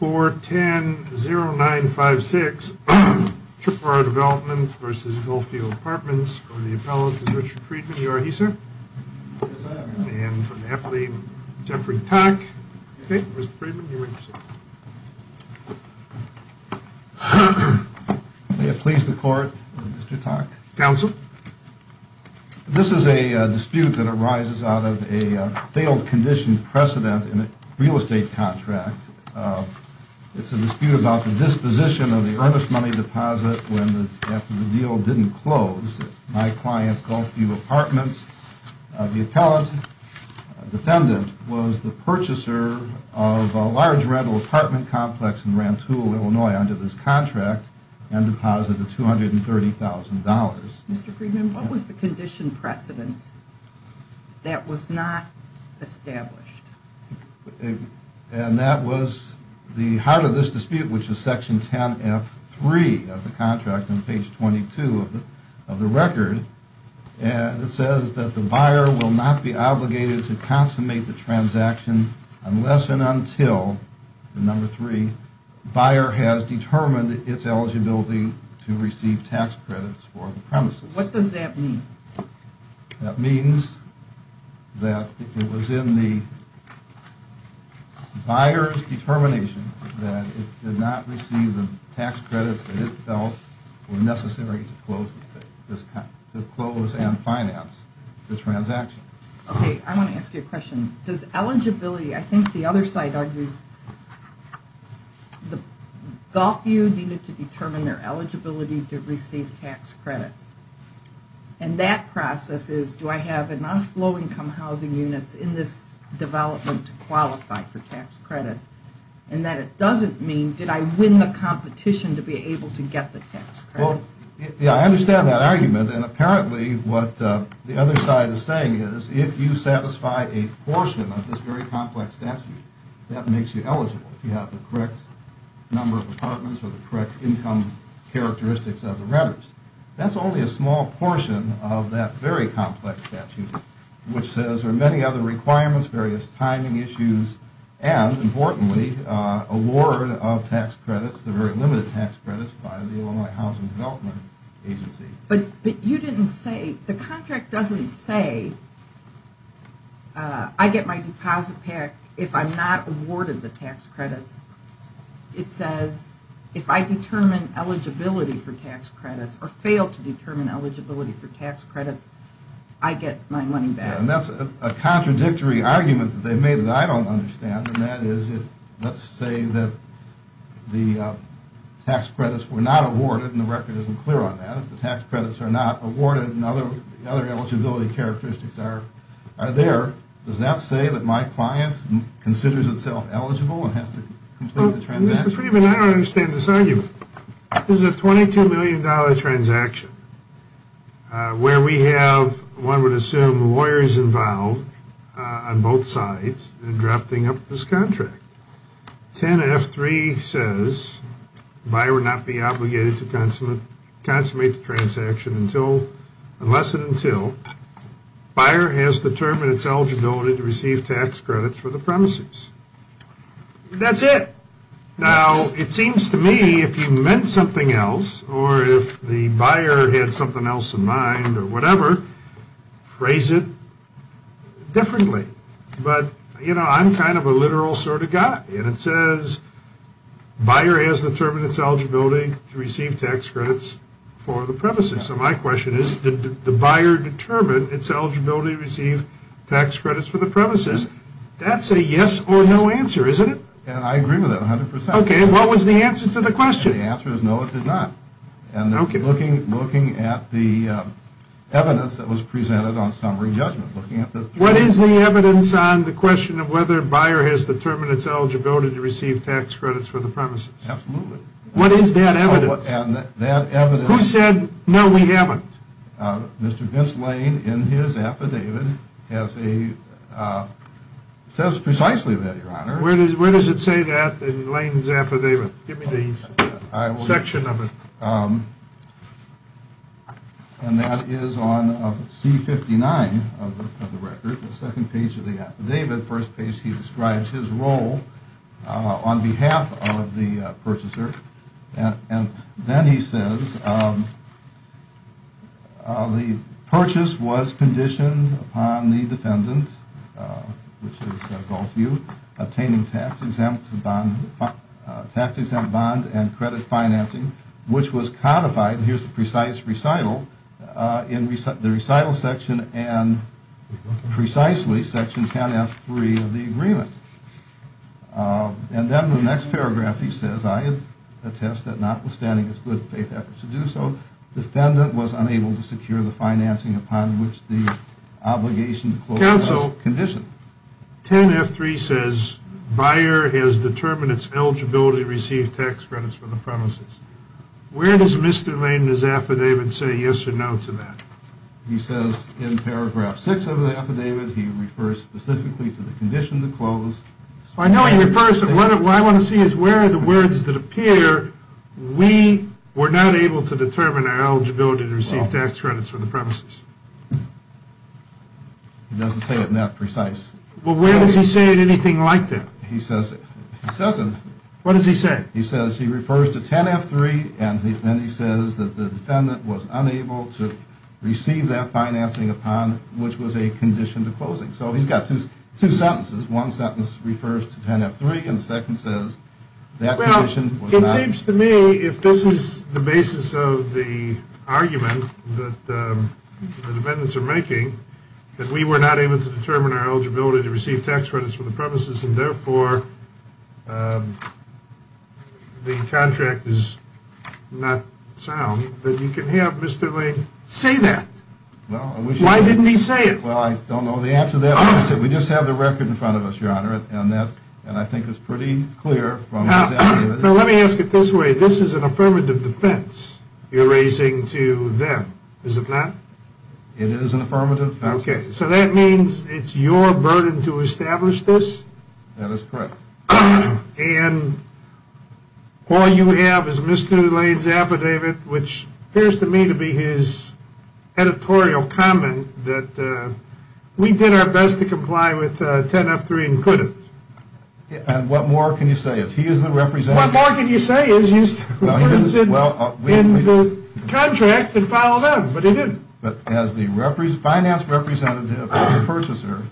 410-0956 Tripp R Development v. Golfview Apartments Mr. Friedman, you are here, sir. Yes, I am. And from the affiliate, Jeffrey Tak. Okay. Mr. Friedman, you may proceed. May it please the Court, Mr. Tak. Counsel. This is a dispute that arises out of a failed condition precedent in a real estate contract. It's a dispute about the disposition of the earnest money deposit when the deal didn't close. My client, Golfview Apartments, the appellant, defendant, was the purchaser of a large rental apartment complex in Rantoul, Illinois, under this contract and deposited $230,000. Mr. Friedman, what was the condition precedent that was not established? And that was the heart of this dispute, which is section 10F3 of the contract on page 22 of the record. And it says that the buyer will not be obligated to consummate the transaction unless and until, number three, the buyer has determined its eligibility to receive tax credits for the premises. What does that mean? That means that it was in the buyer's determination that it did not receive the tax credits that it felt were necessary to close and finance the transaction. Okay, I want to ask you a question. I think the other side argues that Golfview needed to determine their eligibility to receive tax credits. And that process is, do I have enough low-income housing units in this development to qualify for tax credits? And that it doesn't mean, did I win the competition to be able to get the tax credits? Well, yeah, I understand that argument. And apparently what the other side is saying is if you satisfy a portion of this very complex statute, that makes you eligible. If you have the correct number of apartments or the correct income characteristics of the renters. That's only a small portion of that very complex statute, which says there are many other requirements, various timing issues, and importantly, award of tax credits, the very limited tax credits by the Illinois Housing Development Agency. But you didn't say, the contract doesn't say I get my deposit back if I'm not awarded the tax credits. It says if I determine eligibility for tax credits or fail to determine eligibility for tax credits, I get my money back. And that's a contradictory argument that they made that I don't understand. And that is, let's say that the tax credits were not awarded and the record isn't clear on that. If the tax credits are not awarded and other eligibility characteristics are there, does that say that my client considers itself eligible and has to complete the transaction? Mr. Freeman, I don't understand this argument. This is a $22 million transaction where we have, one would assume, lawyers involved on both sides drafting up this contract. 10F3 says the buyer would not be obligated to consummate the transaction unless and until the buyer has determined its eligibility to receive tax credits for the premises. That's it. Now, it seems to me if you meant something else or if the buyer had something else in mind or whatever, phrase it differently. But, you know, I'm kind of a literal sort of guy. And it says buyer has determined its eligibility to receive tax credits for the premises. So my question is, did the buyer determine its eligibility to receive tax credits for the premises? That's a yes or no answer, isn't it? And I agree with that 100%. Okay, and what was the answer to the question? The answer is no, it did not. Okay. And looking at the evidence that was presented on summary judgment, looking at the... What is the evidence on the question of whether the buyer has determined its eligibility to receive tax credits for the premises? Absolutely. What is that evidence? That evidence... Who said, no, we haven't? Mr. Vince Lane, in his affidavit, says precisely that, Your Honor. Where does it say that in Lane's affidavit? Give me the section of it. And that is on C-59 of the record, the second page of the affidavit. First page he describes his role on behalf of the purchaser. And then he says, the purchase was conditioned upon the defendant, which is Gulfview, obtaining tax-exempt bond and credit financing, which was codified, and here's the precise recital, in the recital section and precisely section 10F3 of the agreement. And then the next paragraph he says, I attest that notwithstanding its good faith efforts to do so, defendant was unable to secure the financing upon which the obligation to close was conditioned. Counsel, 10F3 says, buyer has determined its eligibility to receive tax credits for the premises. Where does Mr. Lane, in his affidavit, say yes or no to that? He says in paragraph 6 of the affidavit, he refers specifically to the condition to close. I know he refers, but what I want to see is where are the words that appear, we were not able to determine our eligibility to receive tax credits for the premises. He doesn't say it in that precise. Well, where does he say it in anything like that? He says it. What does he say? He says he refers to 10F3 and then he says that the defendant was unable to receive that financing upon which was a condition to closing. So he's got two sentences. One sentence refers to 10F3 and the second says that condition was not. Well, it seems to me if this is the basis of the argument that the defendants are making, that we were not able to determine our eligibility to receive tax credits for the premises and therefore the contract is not sound, that you can have Mr. Lane say that. Why didn't he say it? Well, I don't know the answer to that question. We just have the record in front of us, Your Honor, and I think it's pretty clear from his affidavit. Now, let me ask it this way. This is an affirmative defense you're raising to them, is it not? It is an affirmative defense. Okay. So that means it's your burden to establish this? That is correct. And all you have is Mr. Lane's affidavit, which appears to me to be his editorial comment that we did our best to comply with 10F3 and couldn't. And what more can you say? He is the representative. What more can you say? You said in the contract it followed up, but it didn't. But as the finance representative for the purchaser,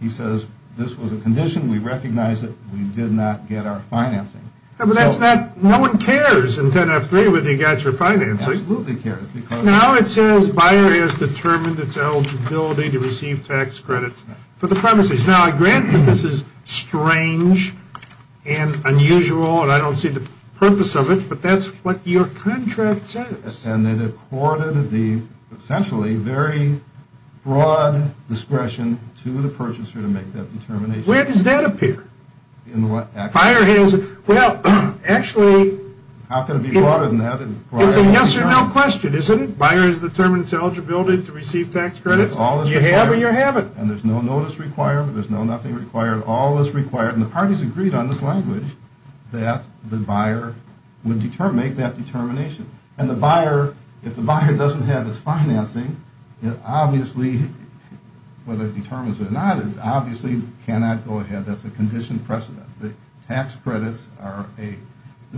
he says this was a condition. We recognize it. We did not get our financing. No one cares in 10F3 whether you got your financing. Absolutely cares. Now it says buyer has determined its eligibility to receive tax credits for the premises. Now, I grant that this is strange and unusual, and I don't see the purpose of it, but that's what your contract says. And it accorded the essentially very broad discretion to the purchaser to make that determination. Where does that appear? In what action? Well, actually. How can it be broader than that? It's a yes or no question, isn't it? Buyer has determined its eligibility to receive tax credits. You have or you haven't. And there's no notice required. There's no nothing required. All is required. And the parties agreed on this language that the buyer would make that determination. And the buyer, if the buyer doesn't have its financing, it obviously, whether it determines it or not, it obviously cannot go ahead. That's a conditioned precedent. The tax credits are a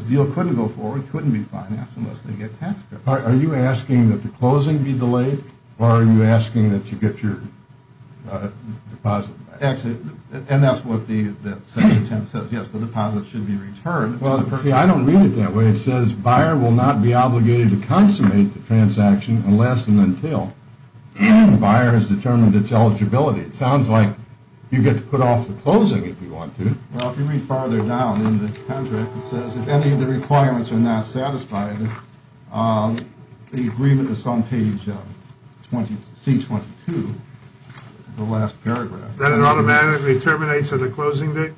deal couldn't go forward, couldn't be financed unless they get tax credits. Are you asking that the closing be delayed, or are you asking that you get your deposit? Actually, and that's what the section 10 says. Yes, the deposit should be returned. See, I don't read it that way. It says buyer will not be obligated to consummate the transaction unless and until the buyer has determined its eligibility. It sounds like you get to put off the closing if you want to. Well, if you read farther down in the contract, it says if any of the requirements are not satisfied, the agreement is on page C-22, the last paragraph. Then it automatically terminates at the closing date?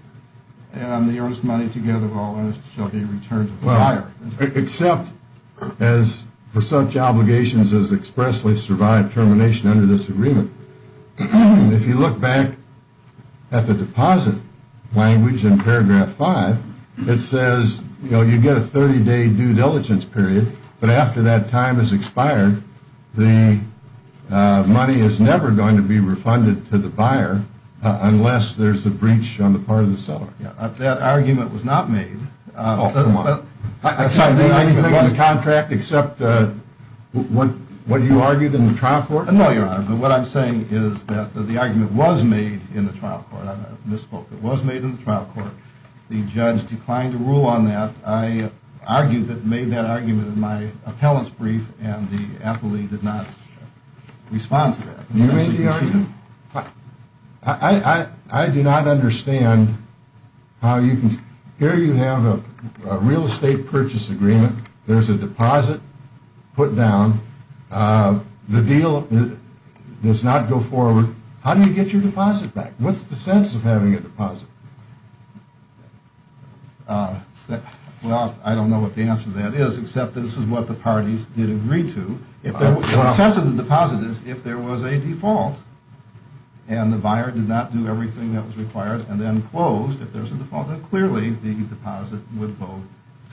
And on the earnest money together, all else shall be returned to the buyer. Except for such obligations as expressly survive termination under this agreement. If you look back at the deposit language in paragraph 5, it says, you know, you get a 30-day due diligence period, but after that time has expired, the money is never going to be refunded to the buyer unless there's a breach on the part of the seller. That argument was not made. Oh, come on. I'm sorry, there was a contract except what you argued in the trial court? No, Your Honor, but what I'm saying is that the argument was made in the trial court. I misspoke. It was made in the trial court. The judge declined to rule on that. I argued that made that argument in my appellant's brief, and the appellee did not respond to that. You may be arguing, I do not understand how you can, here you have a real estate purchase agreement. There's a deposit put down. The deal does not go forward. How do you get your deposit back? What's the sense of having a deposit? Well, I don't know what the answer to that is, except this is what the parties did agree to. The sense of the deposit is if there was a default and the buyer did not do everything that was required and then closed, if there's a default, then clearly the deposit would go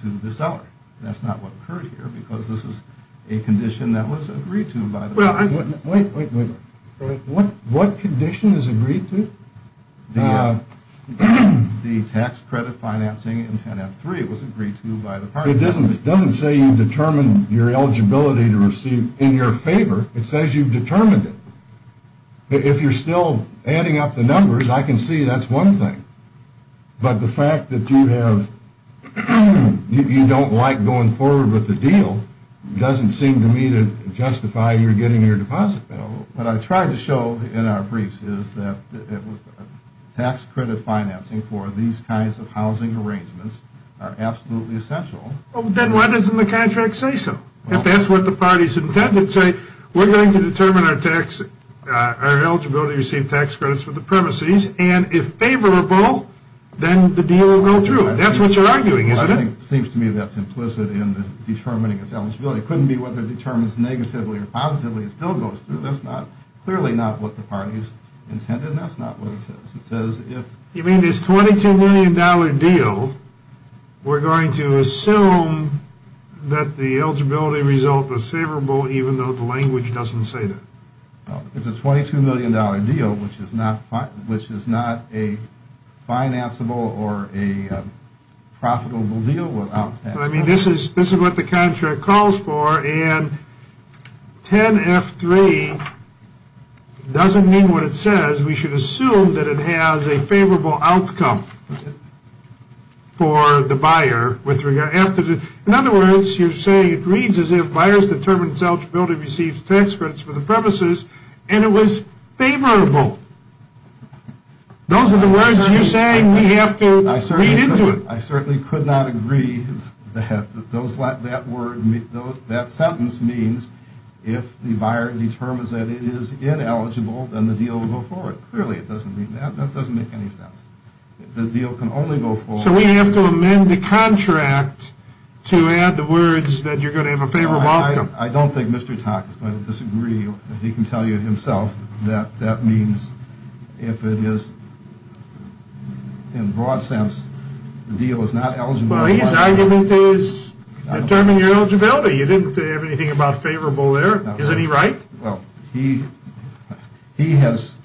to the seller. That's not what occurred here because this is a condition that was agreed to by the parties. Wait, wait, wait. What condition is agreed to? The tax credit financing in 10-F-3 was agreed to by the parties. It doesn't say you determine your eligibility to receive in your favor. It says you've determined it. If you're still adding up the numbers, I can see that's one thing. But the fact that you have, you don't like going forward with the deal doesn't seem to me to justify you getting your deposit back. What I tried to show in our briefs is that tax credit financing for these kinds of housing arrangements are absolutely essential. Then why doesn't the contract say so? If that's what the parties intended to say, we're going to determine our eligibility to receive tax credits for the premises, and if favorable, then the deal will go through. That's what you're arguing, isn't it? It seems to me that's implicit in determining its eligibility. It couldn't be whether it determines negatively or positively. It still goes through. That's clearly not what the parties intended. That's not what it says. You mean this $22 million deal, we're going to assume that the eligibility result was favorable even though the language doesn't say that? It's a $22 million deal, which is not a financeable or a profitable deal without tax credits. This is what the contract calls for, and 10F3 doesn't mean what it says. We should assume that it has a favorable outcome for the buyer. In other words, you're saying it reads as if buyers determined its eligibility to receive tax credits for the premises, and it was favorable. Those are the words you're saying we have to read into it. I certainly could not agree that that sentence means if the buyer determines that it is ineligible, then the deal will go forward. Clearly it doesn't mean that. That doesn't make any sense. The deal can only go forward. So we have to amend the contract to add the words that you're going to have a favorable outcome. I don't think Mr. Tock is going to disagree. He can tell you himself that that means if it is, in broad sense, the deal is not eligible. Well, his argument is determine your eligibility. You didn't say anything about favorable there. Is any right? Well, he has,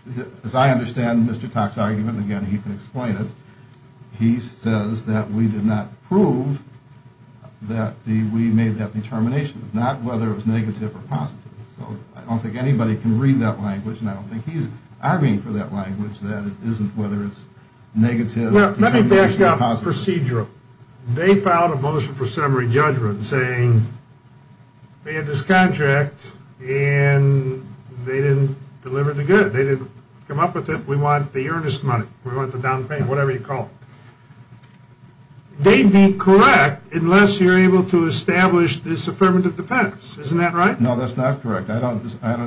as I understand Mr. Tock's argument, and again, he can explain it, he says that we did not prove that we made that determination. Not whether it was negative or positive. So I don't think anybody can read that language, and I don't think he's arguing for that language that it isn't whether it's negative. Let me back up the procedure. They filed a motion for summary judgment saying they had this contract, and they didn't deliver the good. They didn't come up with it. We want the earnest money. We want the down payment, whatever you call it. They'd be correct unless you're able to establish this affirmative defense. Isn't that right? No, that's not correct. I don't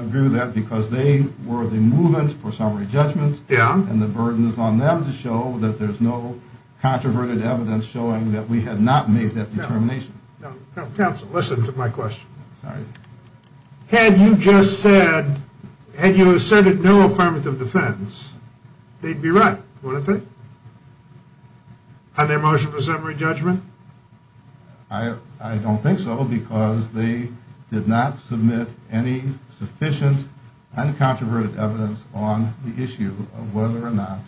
agree with that because they were the movement for summary judgment, and the burden is on them to show that there's no controverted evidence showing that we had not made that determination. Counsel, listen to my question. Sorry. Had you just said, had you asserted no affirmative defense, they'd be right, wouldn't they? Had their motion for summary judgment? I don't think so because they did not submit any sufficient uncontroverted evidence on the issue of whether or not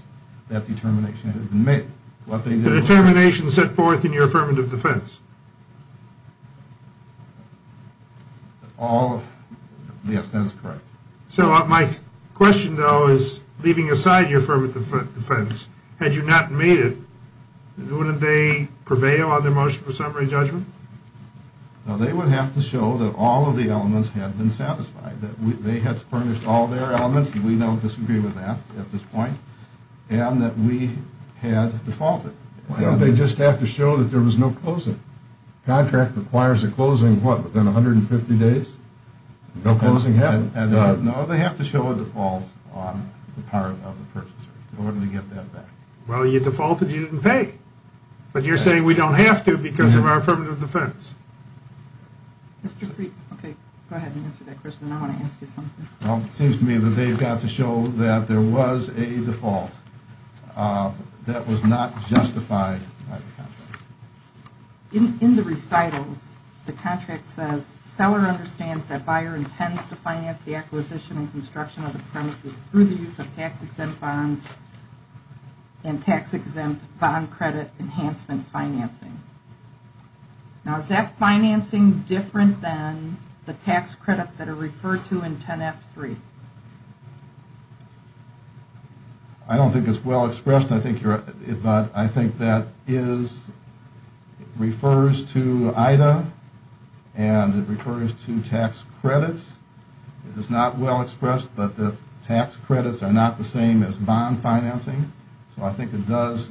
that determination had been made. The determination set forth in your affirmative defense? Yes, that's correct. So my question, though, is leaving aside your affirmative defense, had you not made it, wouldn't they prevail on their motion for summary judgment? No, they would have to show that all of the elements had been satisfied, that they had furnished all their elements, and we don't disagree with that at this point, and that we had defaulted. Why don't they just have to show that there was no closing? Contract requires a closing, what, within 150 days? No closing happened. No, they have to show a default on the part of the purchaser in order to get that back. Well, you defaulted, you didn't pay. But you're saying we don't have to because of our affirmative defense. Okay, go ahead and answer that question. I want to ask you something. Well, it seems to me that they've got to show that there was a default that was not justified by the contract. In the recitals, the contract says, seller understands that buyer intends to finance the acquisition and construction of the premises through the use of tax-exempt bonds and tax-exempt bond credit enhancement financing. Now, is that financing different than the tax credits that are referred to in 10-F-3? I don't think it's well expressed, but I think that refers to IDA and it refers to tax credits. It is not well expressed, but the tax credits are not the same as bond financing. So I think it does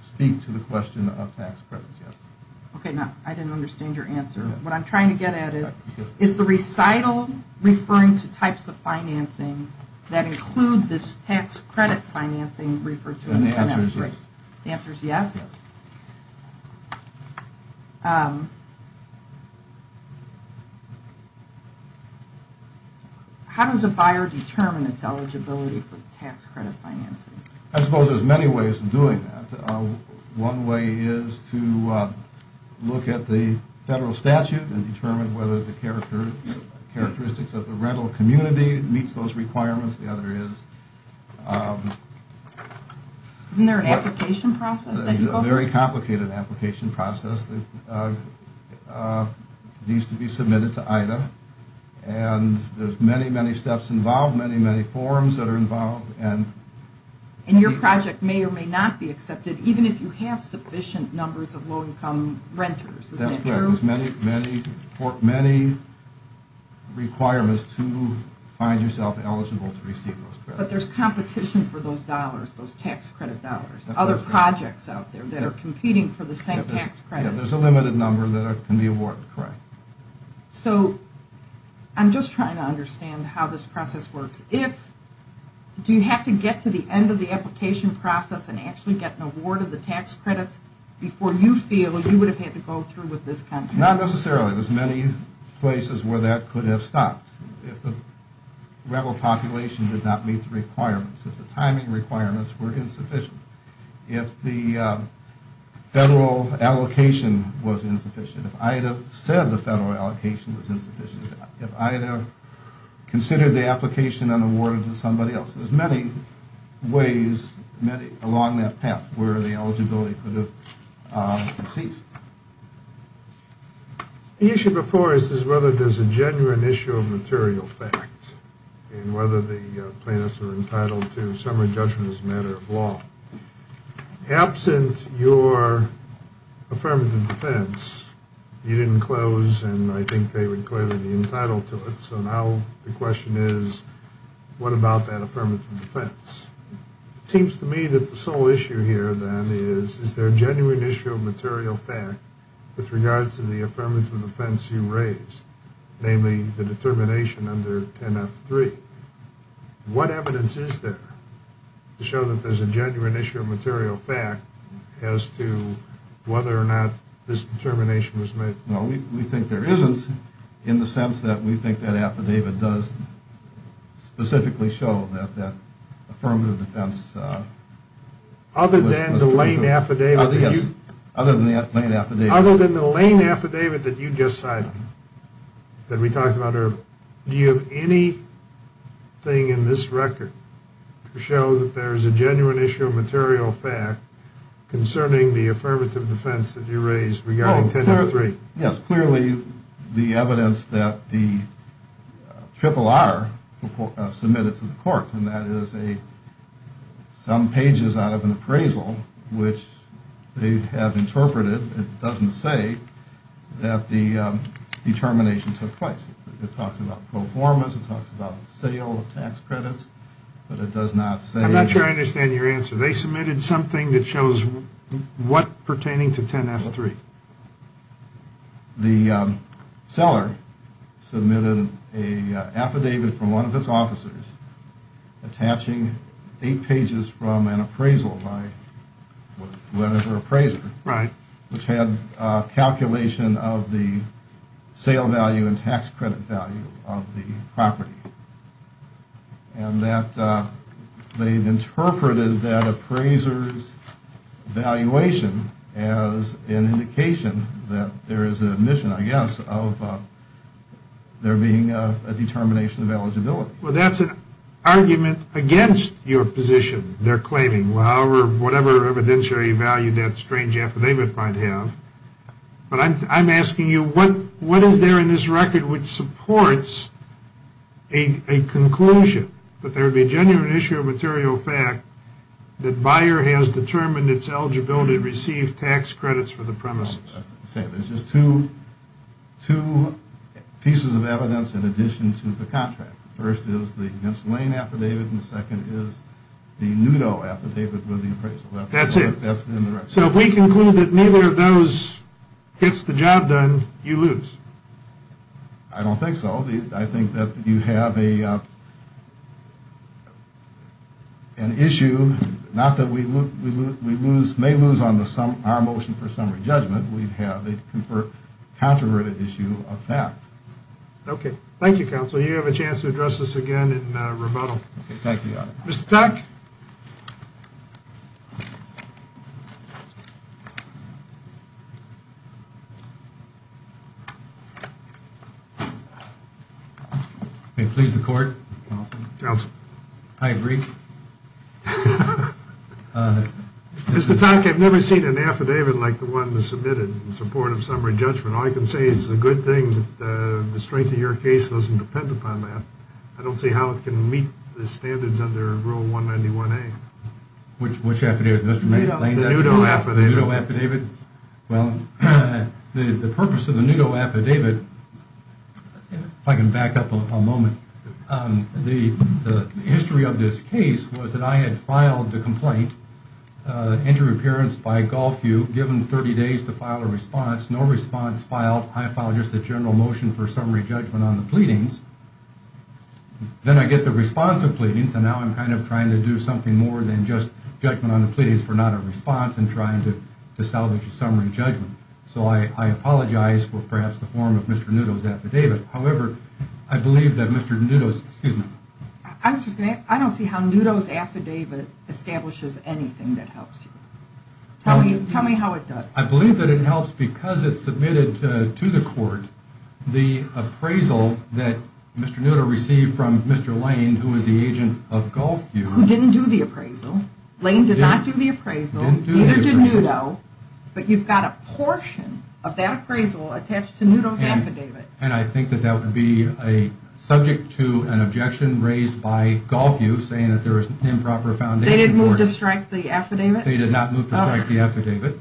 speak to the question of tax credits, yes. Okay, now, I didn't understand your answer. What I'm trying to get at is, is the recital referring to types of financing that include this tax credit financing referred to in 10-F-3? The answer is yes. The answer is yes? Yes. How does a buyer determine its eligibility for tax credit financing? I suppose there's many ways of doing that. One way is to look at the federal statute and determine whether the characteristics of the rental community meets those requirements. The other is… Isn't there an application process that you go through? There's a very complicated application process that needs to be submitted to IDA, and there's many, many steps involved, many, many forms that are involved. And your project may or may not be accepted, even if you have sufficient numbers of low-income renters. That's correct. There's many, many requirements to find yourself eligible to receive those credits. But there's competition for those dollars, those tax credit dollars, other projects out there that are competing for the same tax credit. There's a limited number that can be awarded, correct. So I'm just trying to understand how this process works. Do you have to get to the end of the application process and actually get an award of the tax credits before you feel you would have had to go through with this contract? Not necessarily. There's many places where that could have stopped. If the rental population did not meet the requirements, if the timing requirements were insufficient, if the federal allocation was insufficient, if IDA said the federal allocation was insufficient, if IDA considered the application and awarded it to somebody else, there's many ways along that path where the eligibility could have ceased. The issue before us is whether there's a genuine issue of material fact in whether the plaintiffs are entitled to summary judgment as a matter of law. Absent your affirmative defense, you didn't close, and I think they would clearly be entitled to it. So now the question is, what about that affirmative defense? It seems to me that the sole issue here, then, is, is there a genuine issue of material fact with regard to the affirmative defense you raised, namely the determination under 10F3. What evidence is there to show that there's a genuine issue of material fact as to whether or not this determination was made? Well, we think there isn't in the sense that we think that affidavit does specifically show that that affirmative defense was closed. Other than the Lane affidavit? Other than the Lane affidavit. The affidavit that you just cited, that we talked about earlier, do you have anything in this record to show that there's a genuine issue of material fact concerning the affirmative defense that you raised regarding 10F3? Yes, clearly the evidence that the RRR submitted to the court, and that is some pages out of an appraisal which they have interpreted. It doesn't say that the determination took place. It talks about performance. It talks about the sale of tax credits, but it does not say. I'm not sure I understand your answer. They submitted something that shows what pertaining to 10F3. The seller submitted an affidavit from one of its officers attaching eight pages from an appraisal by whatever appraiser, which had a calculation of the sale value and tax credit value of the property, and that they've interpreted that appraiser's valuation as an indication that there is an admission, I guess, of there being a determination of eligibility. Well, that's an argument against your position they're claiming, whatever evidentiary value that strange affidavit might have. But I'm asking you, what is there in this record which supports a conclusion that there would be a genuine issue of material fact that buyer has determined its eligibility to receive tax credits for the premises? There's just two pieces of evidence in addition to the contract. The first is the Ghent's Lane affidavit, and the second is the Nudo affidavit with the appraisal. That's it. That's in the record. So if we conclude that neither of those gets the job done, you lose? I don't think so. I think that you have an issue, not that we may lose on our motion for summary judgment. We have a controversial issue of fact. Okay. Thank you, Counsel. You have a chance to address this again in rebuttal. Okay. Thank you, Your Honor. Mr. Tonk? May it please the Court? Counsel. I agree. Mr. Tonk, I've never seen an affidavit like the one that's submitted in support of summary judgment. All I can say is it's a good thing that the strength of your case doesn't depend upon that. I don't see how it can meet the standards under Rule 191A. Which affidavit, Mr. Lane? The Nudo affidavit. The Nudo affidavit. Well, the purpose of the Nudo affidavit, if I can back up a moment, the history of this case was that I had filed the complaint, entry of appearance by Gulfview, given 30 days to file a response. No response filed. I filed just a general motion for summary judgment on the pleadings. Then I get the response of pleadings, and now I'm kind of trying to do something more than just judgment on the pleadings for not a response and trying to salvage a summary judgment. So I apologize for perhaps the form of Mr. Nudo's affidavit. However, I believe that Mr. Nudo's, excuse me. I don't see how Nudo's affidavit establishes anything that helps you. Tell me how it does. I believe that it helps because it submitted to the court the appraisal that Mr. Nudo received from Mr. Lane, who was the agent of Gulfview. Who didn't do the appraisal. Lane did not do the appraisal. Neither did Nudo. But you've got a portion of that appraisal attached to Nudo's affidavit. And I think that that would be subject to an objection raised by Gulfview, saying that there is an improper foundation for it. They didn't move to strike the affidavit? They did not move to strike the affidavit.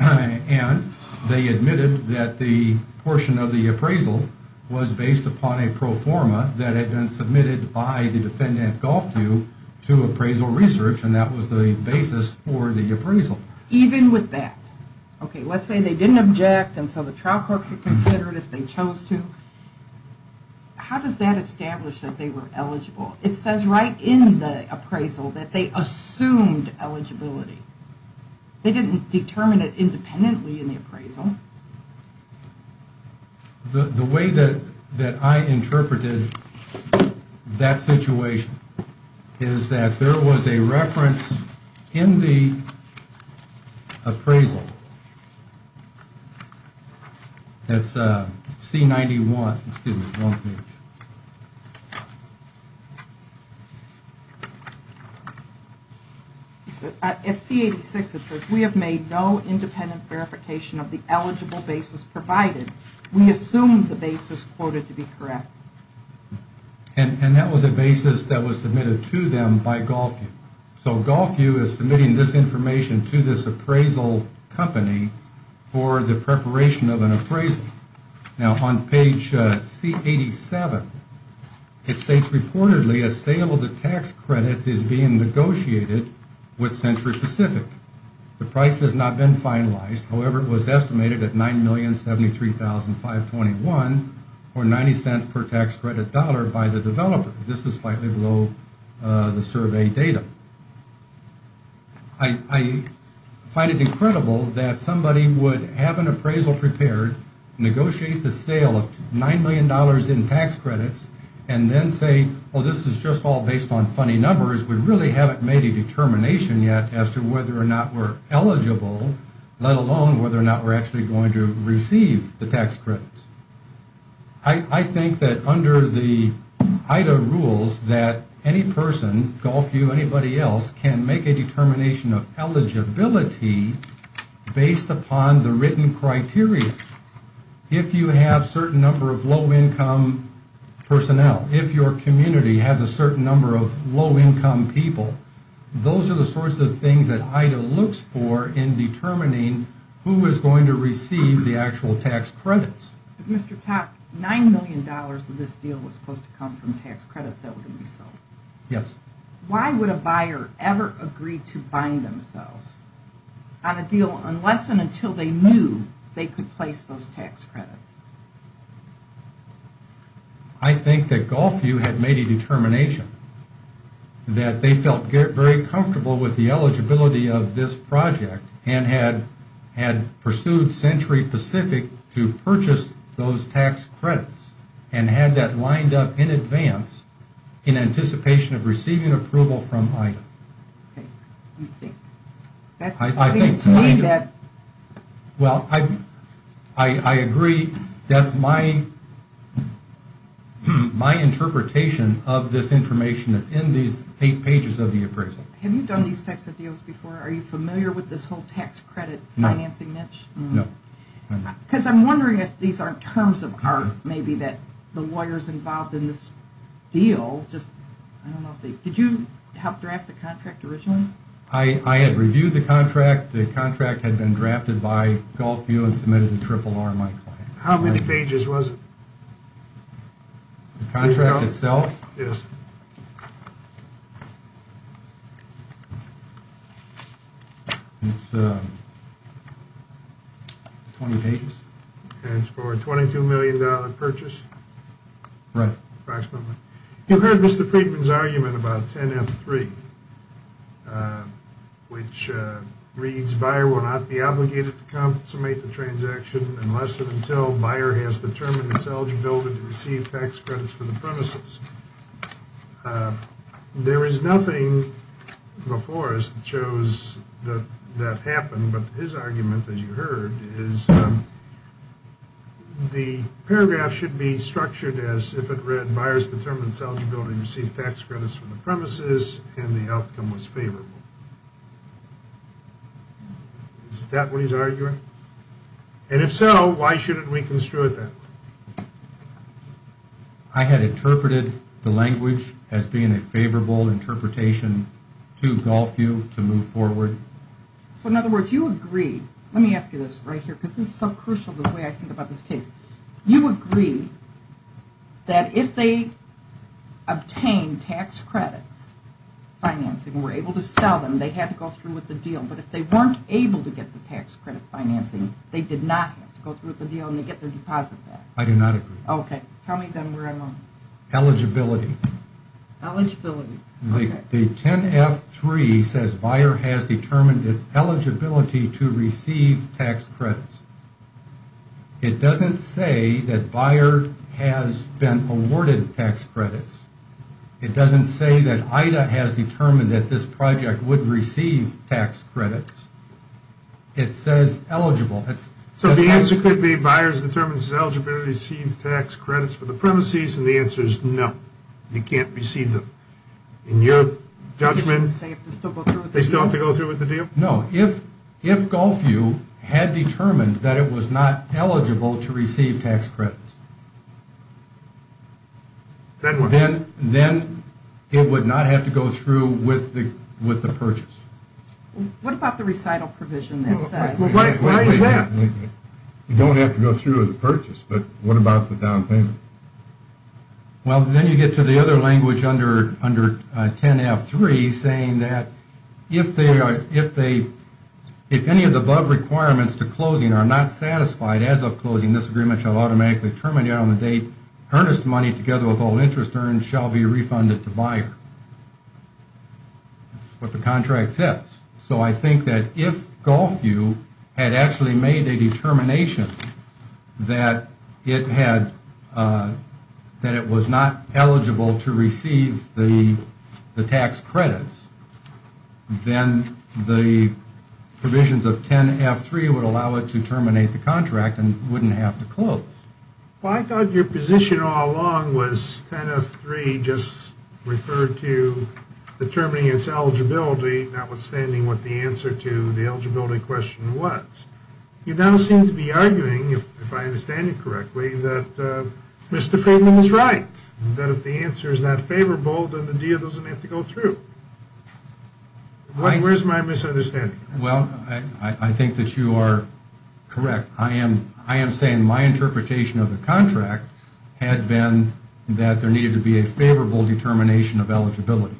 And they admitted that the portion of the appraisal was based upon a pro forma that had been submitted by the defendant, Gulfview, to appraisal research, and that was the basis for the appraisal. Even with that. Okay, let's say they didn't object, and so the trial court could consider it if they chose to. How does that establish that they were eligible? It says right in the appraisal that they assumed eligibility. They didn't determine it independently in the appraisal. The way that I interpreted that situation is that there was a reference in the appraisal, that's C-91, excuse me, wrong page. At C-86 it says, we have made no independent verification of the eligible basis provided. We assume the basis quoted to be correct. And that was a basis that was submitted to them by Gulfview. So Gulfview is submitting this information to this appraisal company for the preparation of an appraisal. Now on page C-87, it states reportedly a sale of the tax credits is being negotiated with Century Pacific. The price has not been finalized. However, it was estimated at $9,073,521, or 90 cents per tax credit dollar, by the developer. This is slightly below the survey data. I find it incredible that somebody would have an appraisal prepared, negotiate the sale of $9 million in tax credits, and then say, oh, this is just all based on funny numbers. We really haven't made a determination yet as to whether or not we're eligible, let alone whether or not we're actually going to receive the tax credits. I think that under the IDA rules that any person, Gulfview, anybody else, can make a determination of eligibility based upon the written criteria. If you have a certain number of low-income personnel, if your community has a certain number of low-income people, those are the sorts of things that IDA looks for in determining who is going to receive the actual tax credits. If Mr. Topp, $9 million of this deal was supposed to come from tax credits that were going to be sold. Yes. Why would a buyer ever agree to bind themselves on a deal unless and until they knew they could place those tax credits? I think that Gulfview had made a determination that they felt very comfortable with the eligibility of this project and had pursued Century Pacific to purchase those tax credits and had that lined up in advance in anticipation of receiving approval from IDA. Okay. You think that seems to me that... Well, I agree. That's my interpretation of this information that's in these eight pages of the appraisal. Have you done these types of deals before? Are you familiar with this whole tax credit financing niche? No. Because I'm wondering if these are terms of art maybe that the lawyers involved in this deal just... I don't know if they... Did you help draft the contract originally? I had reviewed the contract. The contract had been drafted by Gulfview and submitted to RRR, my client. How many pages was it? The contract itself? Yes. How many pages? It's 20 pages. And it's for a $22 million purchase? Right. Approximately. You heard Mr. Friedman's argument about 10F3, which reads, The buyer will not be obligated to consummate the transaction unless and until the buyer has determined its eligibility to receive tax credits for the premises. There is nothing before us that shows that that happened, but his argument, as you heard, is the paragraph should be structured as if it read, Buyers determined its eligibility to receive tax credits from the premises, and the outcome was favorable. Is that what he's arguing? And if so, why shouldn't we construe it that way? I had interpreted the language as being a favorable interpretation to Gulfview to move forward. So, in other words, you agree. Let me ask you this right here, because this is so crucial the way I think about this case. You agree that if they obtained tax credits financing and were able to sell them, they had to go through with the deal. But if they weren't able to get the tax credit financing, they did not have to go through with the deal, and they get their deposit back. I do not agree. Okay. Tell me then where I'm wrong. Eligibility. Eligibility. The 10F3 says buyer has determined its eligibility to receive tax credits. It doesn't say that buyer has been awarded tax credits. It doesn't say that IDA has determined that this project would receive tax credits. It says eligible. So the answer could be buyers determined its eligibility to receive tax credits from the premises, and the answer is no. They can't receive them. In your judgment, they still have to go through with the deal? No. If Gulfview had determined that it was not eligible to receive tax credits, then it would not have to go through with the purchase. What about the recital provision that says? Well, why is that? You don't have to go through with the purchase, but what about the down payment? Well, then you get to the other language under 10F3 saying that if any of the above requirements to closing are not satisfied as of closing, this agreement shall automatically terminate on the date earnest money together with all interest earned shall be refunded to buyer. That's what the contract says. So I think that if Gulfview had actually made a determination that it was not eligible to receive the tax credits, then the provisions of 10F3 would allow it to terminate the contract and wouldn't have to close. Well, I thought your position all along was 10F3 just referred to determining its eligibility, notwithstanding what the answer to the eligibility question was. You now seem to be arguing, if I understand you correctly, that Mr. Friedman is right, that if the answer is not favorable, then the deal doesn't have to go through. Where's my misunderstanding? Well, I think that you are correct. I am saying my interpretation of the contract had been that there needed to be a favorable determination of eligibility.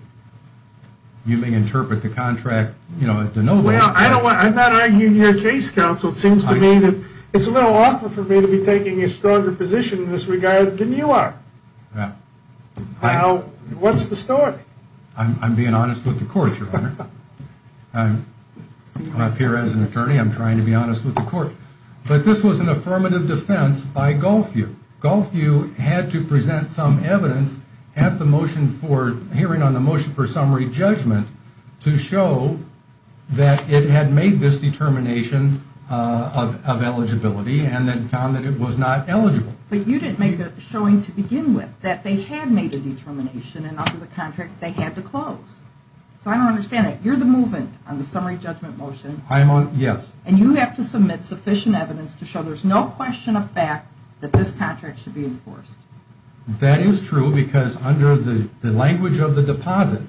You may interpret the contract in no way. Well, I'm not arguing your case, counsel. It seems to me that it's a little awkward for me to be taking a stronger position in this regard than you are. What's the story? I'm being honest with the court, Your Honor. I'm up here as an attorney. I'm trying to be honest with the court. But this was an affirmative defense by Gulfview. Gulfview had to present some evidence at the hearing on the motion for summary judgment to show that it had made this determination of eligibility and then found that it was not eligible. But you didn't make a showing to begin with that they had made a determination and under the contract they had to close. So I don't understand it. You're the movement on the summary judgment motion. I am on it, yes. And you have to submit sufficient evidence to show there's no question of fact that this contract should be enforced. That is true because under the language of the deposit,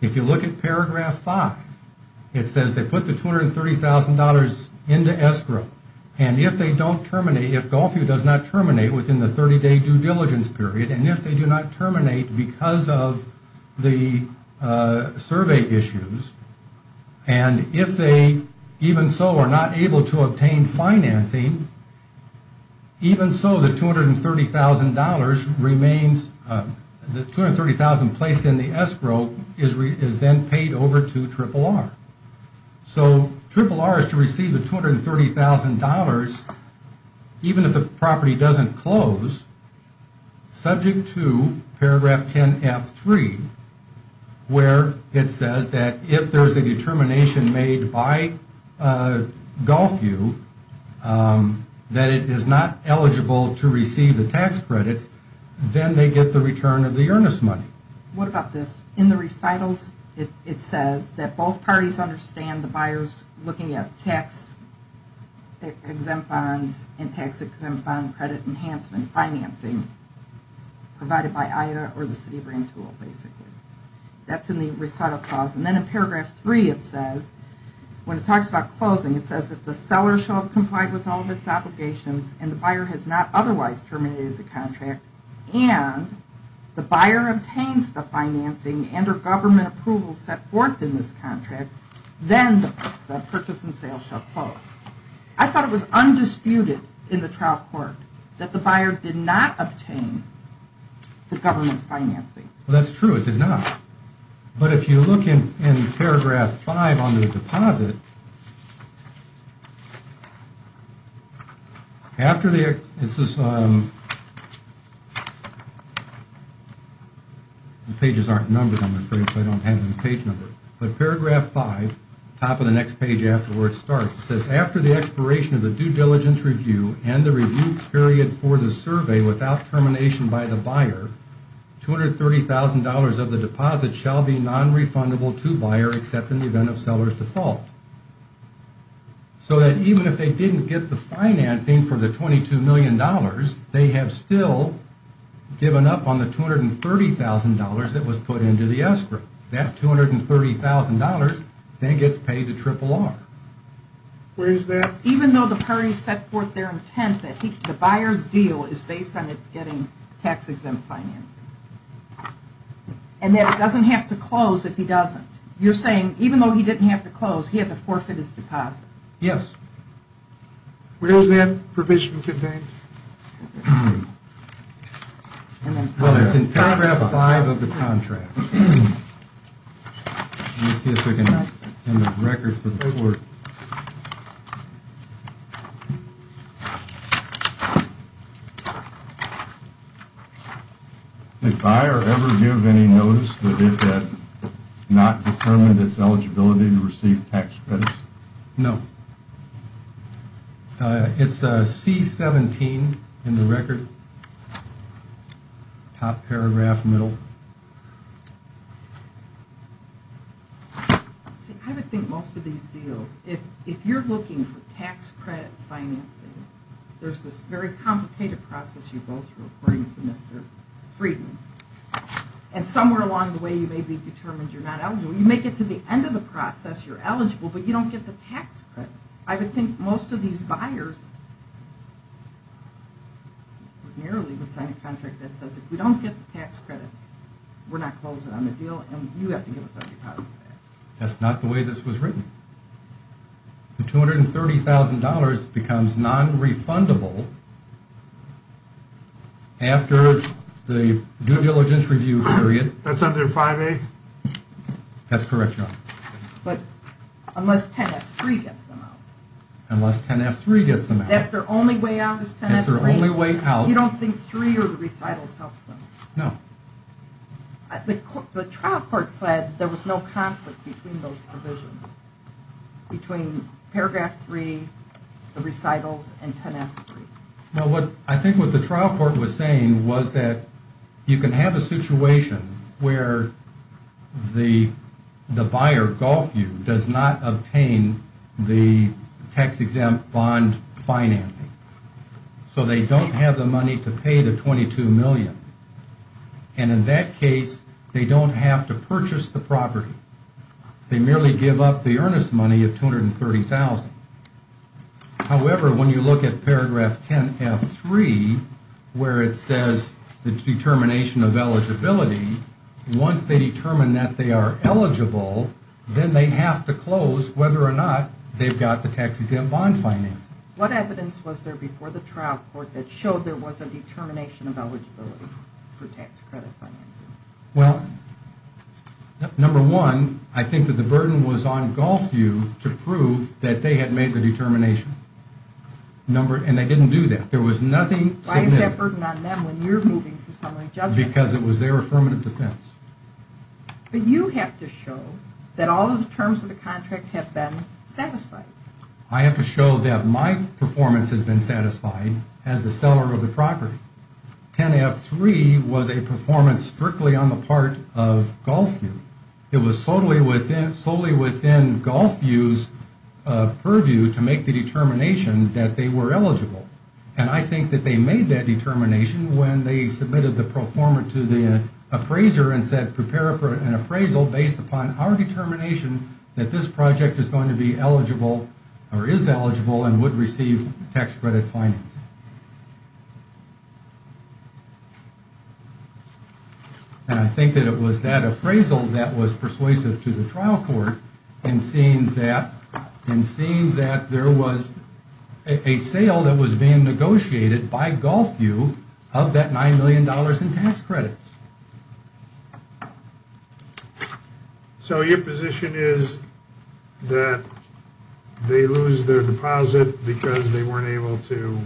if you look at paragraph five, it says they put the $230,000 into escrow. And if they don't terminate, if Gulfview does not terminate within the 30-day due diligence period, and if they do not terminate because of the survey issues, and if they even so are not able to obtain financing, even so the $230,000 placed in the escrow is then paid over to RRR. So RRR is to receive the $230,000 even if the property doesn't close, subject to paragraph 10F3, where it says that if there's a determination made by Gulfview that it is not eligible to receive the tax credits, then they get the return of the earnest money. What about this? In the recitals, it says that both parties understand the buyer's looking at tax exempt bonds and tax exempt bond credit enhancement financing provided by either or the CitiBrand tool basically. That's in the recital clause. And then in paragraph three it says, when it talks about closing, it says that the seller shall have complied with all of its obligations and the buyer has not otherwise terminated the contract, and the buyer obtains the financing and or government approval set forth in this contract, then the purchase and sale shall close. I thought it was undisputed in the trial court that the buyer did not obtain the government financing. That's true, it did not. But if you look in paragraph five on the deposit, after the expiration of the due diligence review and the review period for the survey without termination by the buyer, $230,000 of the deposit shall be nonrefundable to buyer except in the event of seller's default. So that even if they didn't get the financing for the $22 million, they have still given up on the $230,000 that was put into the escrow. That $230,000 then gets paid to RRR. Where is that? Even though the parties set forth their intent that the buyer's deal is based on its getting tax exempt financing. And that it doesn't have to close if he doesn't. You're saying even though he didn't have to close, he had to forfeit his deposit. Yes. Where is that provision contained? Well, it's in paragraph five of the contract. Let me see if we can find the record for the court. Did buyer ever give any notice that it had not determined its eligibility to receive tax credits? No. It's C-17 in the record. Top paragraph, middle. See, I would think most of these deals, if you're looking for tax credit financing, there's this very complicated process you're both reporting to Mr. Friedman. And somewhere along the way you may be determined you're not eligible. You may get to the end of the process, you're eligible, but you don't get the tax credits. I would think most of these buyers ordinarily would sign a contract that says if we don't get the tax credits, we're not closing on the deal and you have to give us our deposit back. That's not the way this was written. The $230,000 becomes nonrefundable after the due diligence review period. That's under 5A? That's correct, Your Honor. But unless 10F3 gets them out. Unless 10F3 gets them out. That's their only way out is 10F3? That's their only way out. You don't think 3 or the recitals helps them? No. The trial court said there was no conflict between those provisions, between paragraph 3, the recitals, and 10F3. I think what the trial court was saying was that you can have a situation where the buyer, Gulfview, does not obtain the tax-exempt bond financing. So they don't have the money to pay the $22 million. And in that case, they don't have to purchase the property. They merely give up the earnest money of $230,000. However, when you look at paragraph 10F3, where it says the determination of eligibility, once they determine that they are eligible, then they have to close whether or not they've got the tax-exempt bond financing. What evidence was there before the trial court that showed there was a determination of eligibility for tax credit financing? Well, number one, I think that the burden was on Gulfview to prove that they had made the determination. And they didn't do that. There was nothing significant. Why is that burden on them when you're moving for summary judgment? Because it was their affirmative defense. But you have to show that all of the terms of the contract have been satisfied. I have to show that my performance has been satisfied as the seller of the property. 10F3 was a performance strictly on the part of Gulfview. It was solely within Gulfview's purview to make the determination that they were eligible. And I think that they made that determination when they submitted the performer to the appraiser and said, prepare an appraisal based upon our determination that this project is going to be eligible or is eligible and would receive tax credit financing. And I think that it was that appraisal that was persuasive to the trial court in seeing that there was a sale that was being negotiated by Gulfview of that $9 million in tax credits. So your position is that they lose their deposit because they weren't able to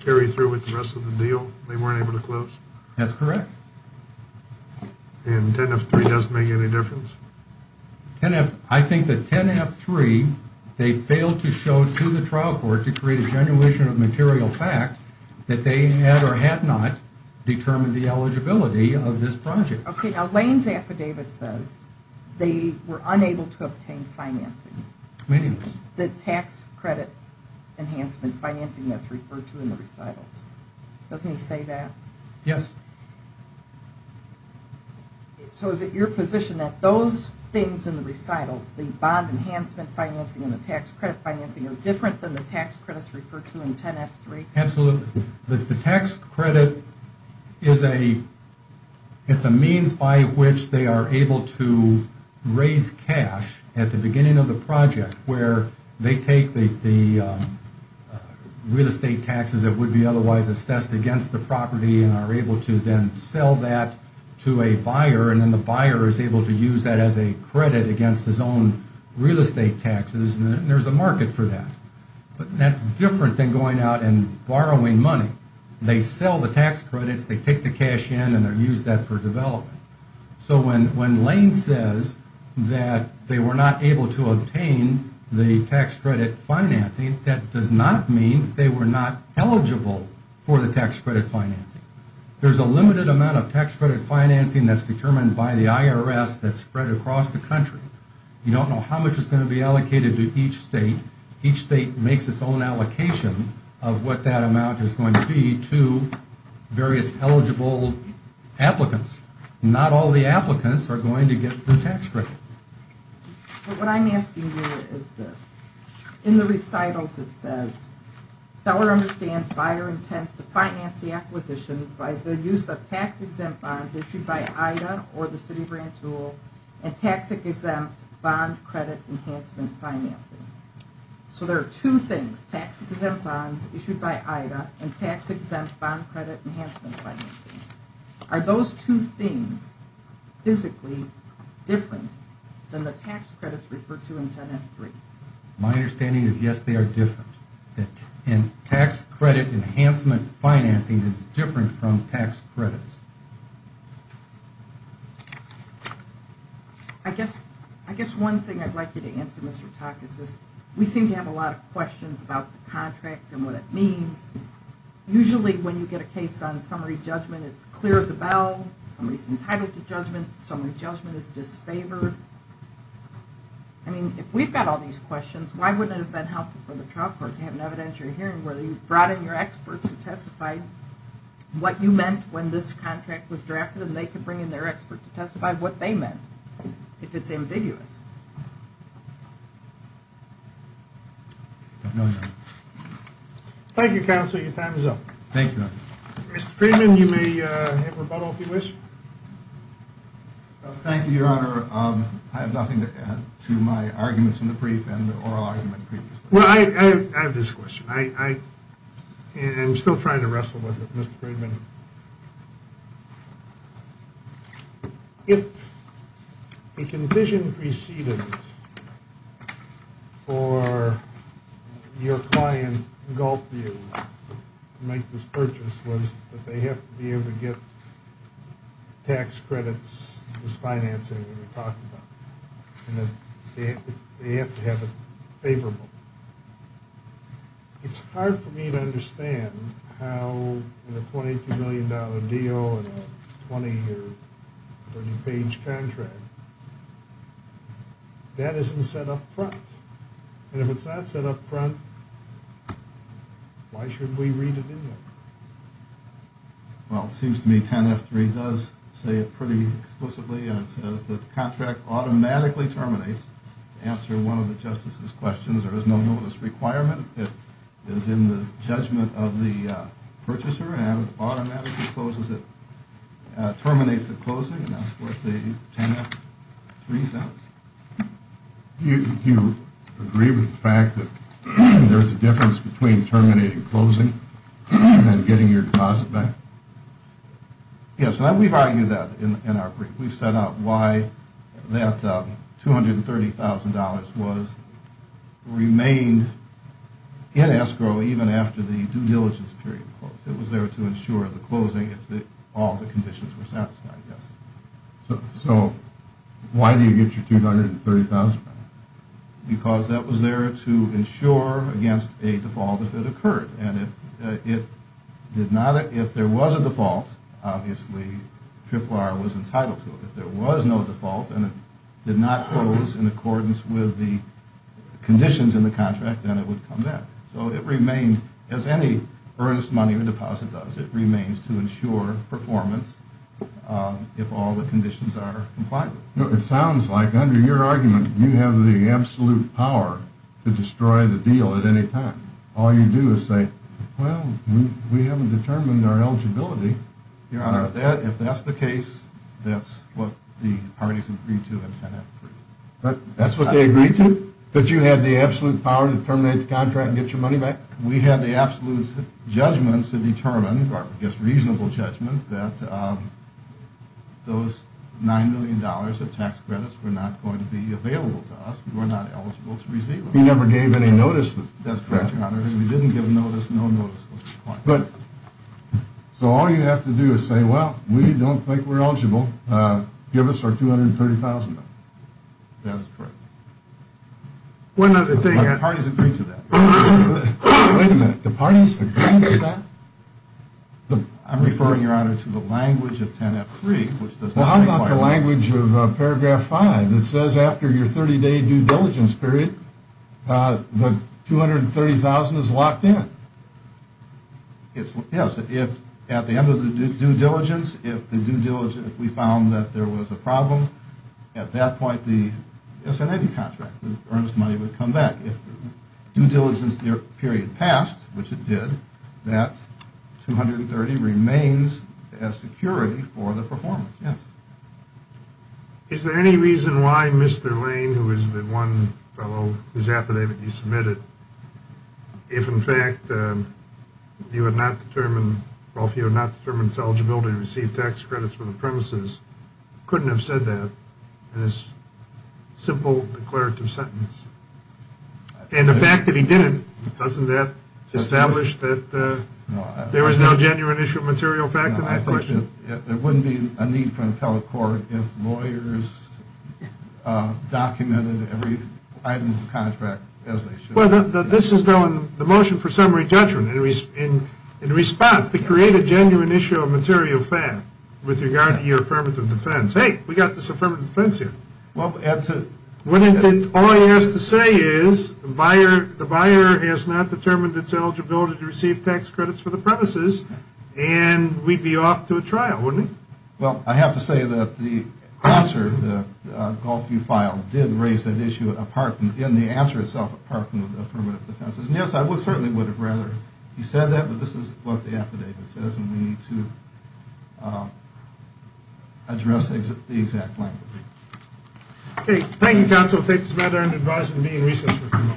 carry through with the rest of the deal? They weren't able to close? That's correct. And 10F3 doesn't make any difference? I think that 10F3 they failed to show to the trial court to create a genuation of material fact that they had or had not determined the eligibility of this project. Okay, now Lane's affidavit says they were unable to obtain financing. Meaning? The tax credit enhancement financing that's referred to in the recitals. Doesn't he say that? Yes. So is it your position that those things in the recitals, the bond enhancement financing and the tax credit financing are different than the tax credits referred to in 10F3? Absolutely. So the tax credit is a means by which they are able to raise cash at the beginning of the project where they take the real estate taxes that would be otherwise assessed against the property and are able to then sell that to a buyer and then the buyer is able to use that as a credit against his own real estate taxes and there's a market for that. But that's different than going out and borrowing money. They sell the tax credits, they take the cash in and they use that for development. So when Lane says that they were not able to obtain the tax credit financing, that does not mean they were not eligible for the tax credit financing. There's a limited amount of tax credit financing that's determined by the IRS that's spread across the country. You don't know how much is going to be allocated to each state. Each state makes its own allocation of what that amount is going to be to various eligible applicants. Not all the applicants are going to get the tax credit. What I'm asking here is this. In the recitals it says, seller understands buyer intends to finance the acquisition by the use of tax-exempt bonds issued by IDA or the Citi Grant Tool and tax-exempt bond credit enhancement financing. So there are two things, tax-exempt bonds issued by IDA and tax-exempt bond credit enhancement financing. Are those two things physically different than the tax credits referred to in 10-F-3? My understanding is yes, they are different. And tax credit enhancement financing is different from tax credits. I guess one thing I'd like you to answer, Mr. Takas, is we seem to have a lot of questions about the contract and what it means. Usually when you get a case on summary judgment, it's clear as a bell. Somebody's entitled to judgment. Summary judgment is disfavored. I mean, if we've got all these questions, why wouldn't it have been helpful for the trial court to have an evidentiary hearing where you brought in your experts who testified what you meant when this contract was drafted and they could bring in their expert to testify what they meant if it's ambiguous? I don't know, Your Honor. Thank you, Counsel. Your time is up. Thank you, Your Honor. Mr. Friedman, you may have rebuttal if you wish. Thank you, Your Honor. I have nothing to add to my arguments in the brief and the oral argument previously. Well, I have this question. I'm still trying to wrestle with it, Mr. Friedman. If a condition preceded or your client engulfed you to make this purchase was that they have to be able to get tax credits, this financing that we talked about, and that they have to have it favorable, it's hard for me to understand how in a $22 million deal and a 20- or 30-page contract that isn't set up front. And if it's not set up front, why should we read it anyway? Well, it seems to me 10F3 does say it pretty explicitly, and it says the contract automatically terminates. To answer one of the justices' questions, there is no notice requirement. It is in the judgment of the purchaser, and it automatically closes it, terminates the closing, and that's what the 10F3 says. Do you agree with the fact that there's a difference between terminating closing and getting your deposit back? Yes, and we've argued that in our brief. We've set out why that $230,000 remained in escrow even after the due diligence period closed. It was there to ensure the closing if all the conditions were satisfied, yes. So why do you get your $230,000 back? Because that was there to ensure against a default if it occurred. And if there was a default, obviously, RRR was entitled to it. If there was no default and it did not close in accordance with the conditions in the contract, then it would come back. So it remained as any earnest money or deposit does. It remains to ensure performance if all the conditions are complied with. It sounds like under your argument, you have the absolute power to destroy the deal at any time. All you do is say, well, we haven't determined our eligibility. Your Honor, if that's the case, that's what the parties agreed to in 10F3. That's what they agreed to? That you had the absolute power to terminate the contract and get your money back? We had the absolute judgment to determine, or I guess reasonable judgment, that those $9 million of tax credits were not going to be available to us. We were not eligible to receive them. He never gave any notice. That's correct, Your Honor. If he didn't give notice, no notice was required. So all you have to do is say, well, we don't think we're eligible. Give us our $230,000. That is correct. One other thing. The parties agreed to that. Wait a minute. The parties agreed to that? Paragraph 5. It says after your 30-day due diligence period, the $230,000 is locked in. Yes. If at the end of the due diligence, if we found that there was a problem, at that point the S&A contract, the earnest money would come back. If due diligence period passed, which it did, that $230,000 remains as security for the performance. Yes. Is there any reason why Mr. Lane, who is the one fellow whose affidavit you submitted, if, in fact, you had not determined, well, if you had not determined his eligibility to receive tax credits for the premises, couldn't have said that in his simple declarative sentence? And the fact that he didn't, doesn't that establish that there was no genuine issue of material fact in that question? No, I think there wouldn't be a need for an appellate court if lawyers documented every item of the contract as they should. Well, this is the motion for summary judgment. In response, to create a genuine issue of material fact with regard to your affirmative defense. Hey, we've got this affirmative defense here. Wouldn't it, all he has to say is, the buyer has not determined its eligibility to receive tax credits for the premises, and we'd be off to a trial, wouldn't we? Well, I have to say that the answer that Goldfield filed did raise that issue, in the answer itself, apart from the affirmative defense. Yes, I certainly would have rather he said that, but this is what the affidavit says, and we need to address the exact language. Okay, thank you, counsel. Thank you, Samantha, for your advice and being resourceful.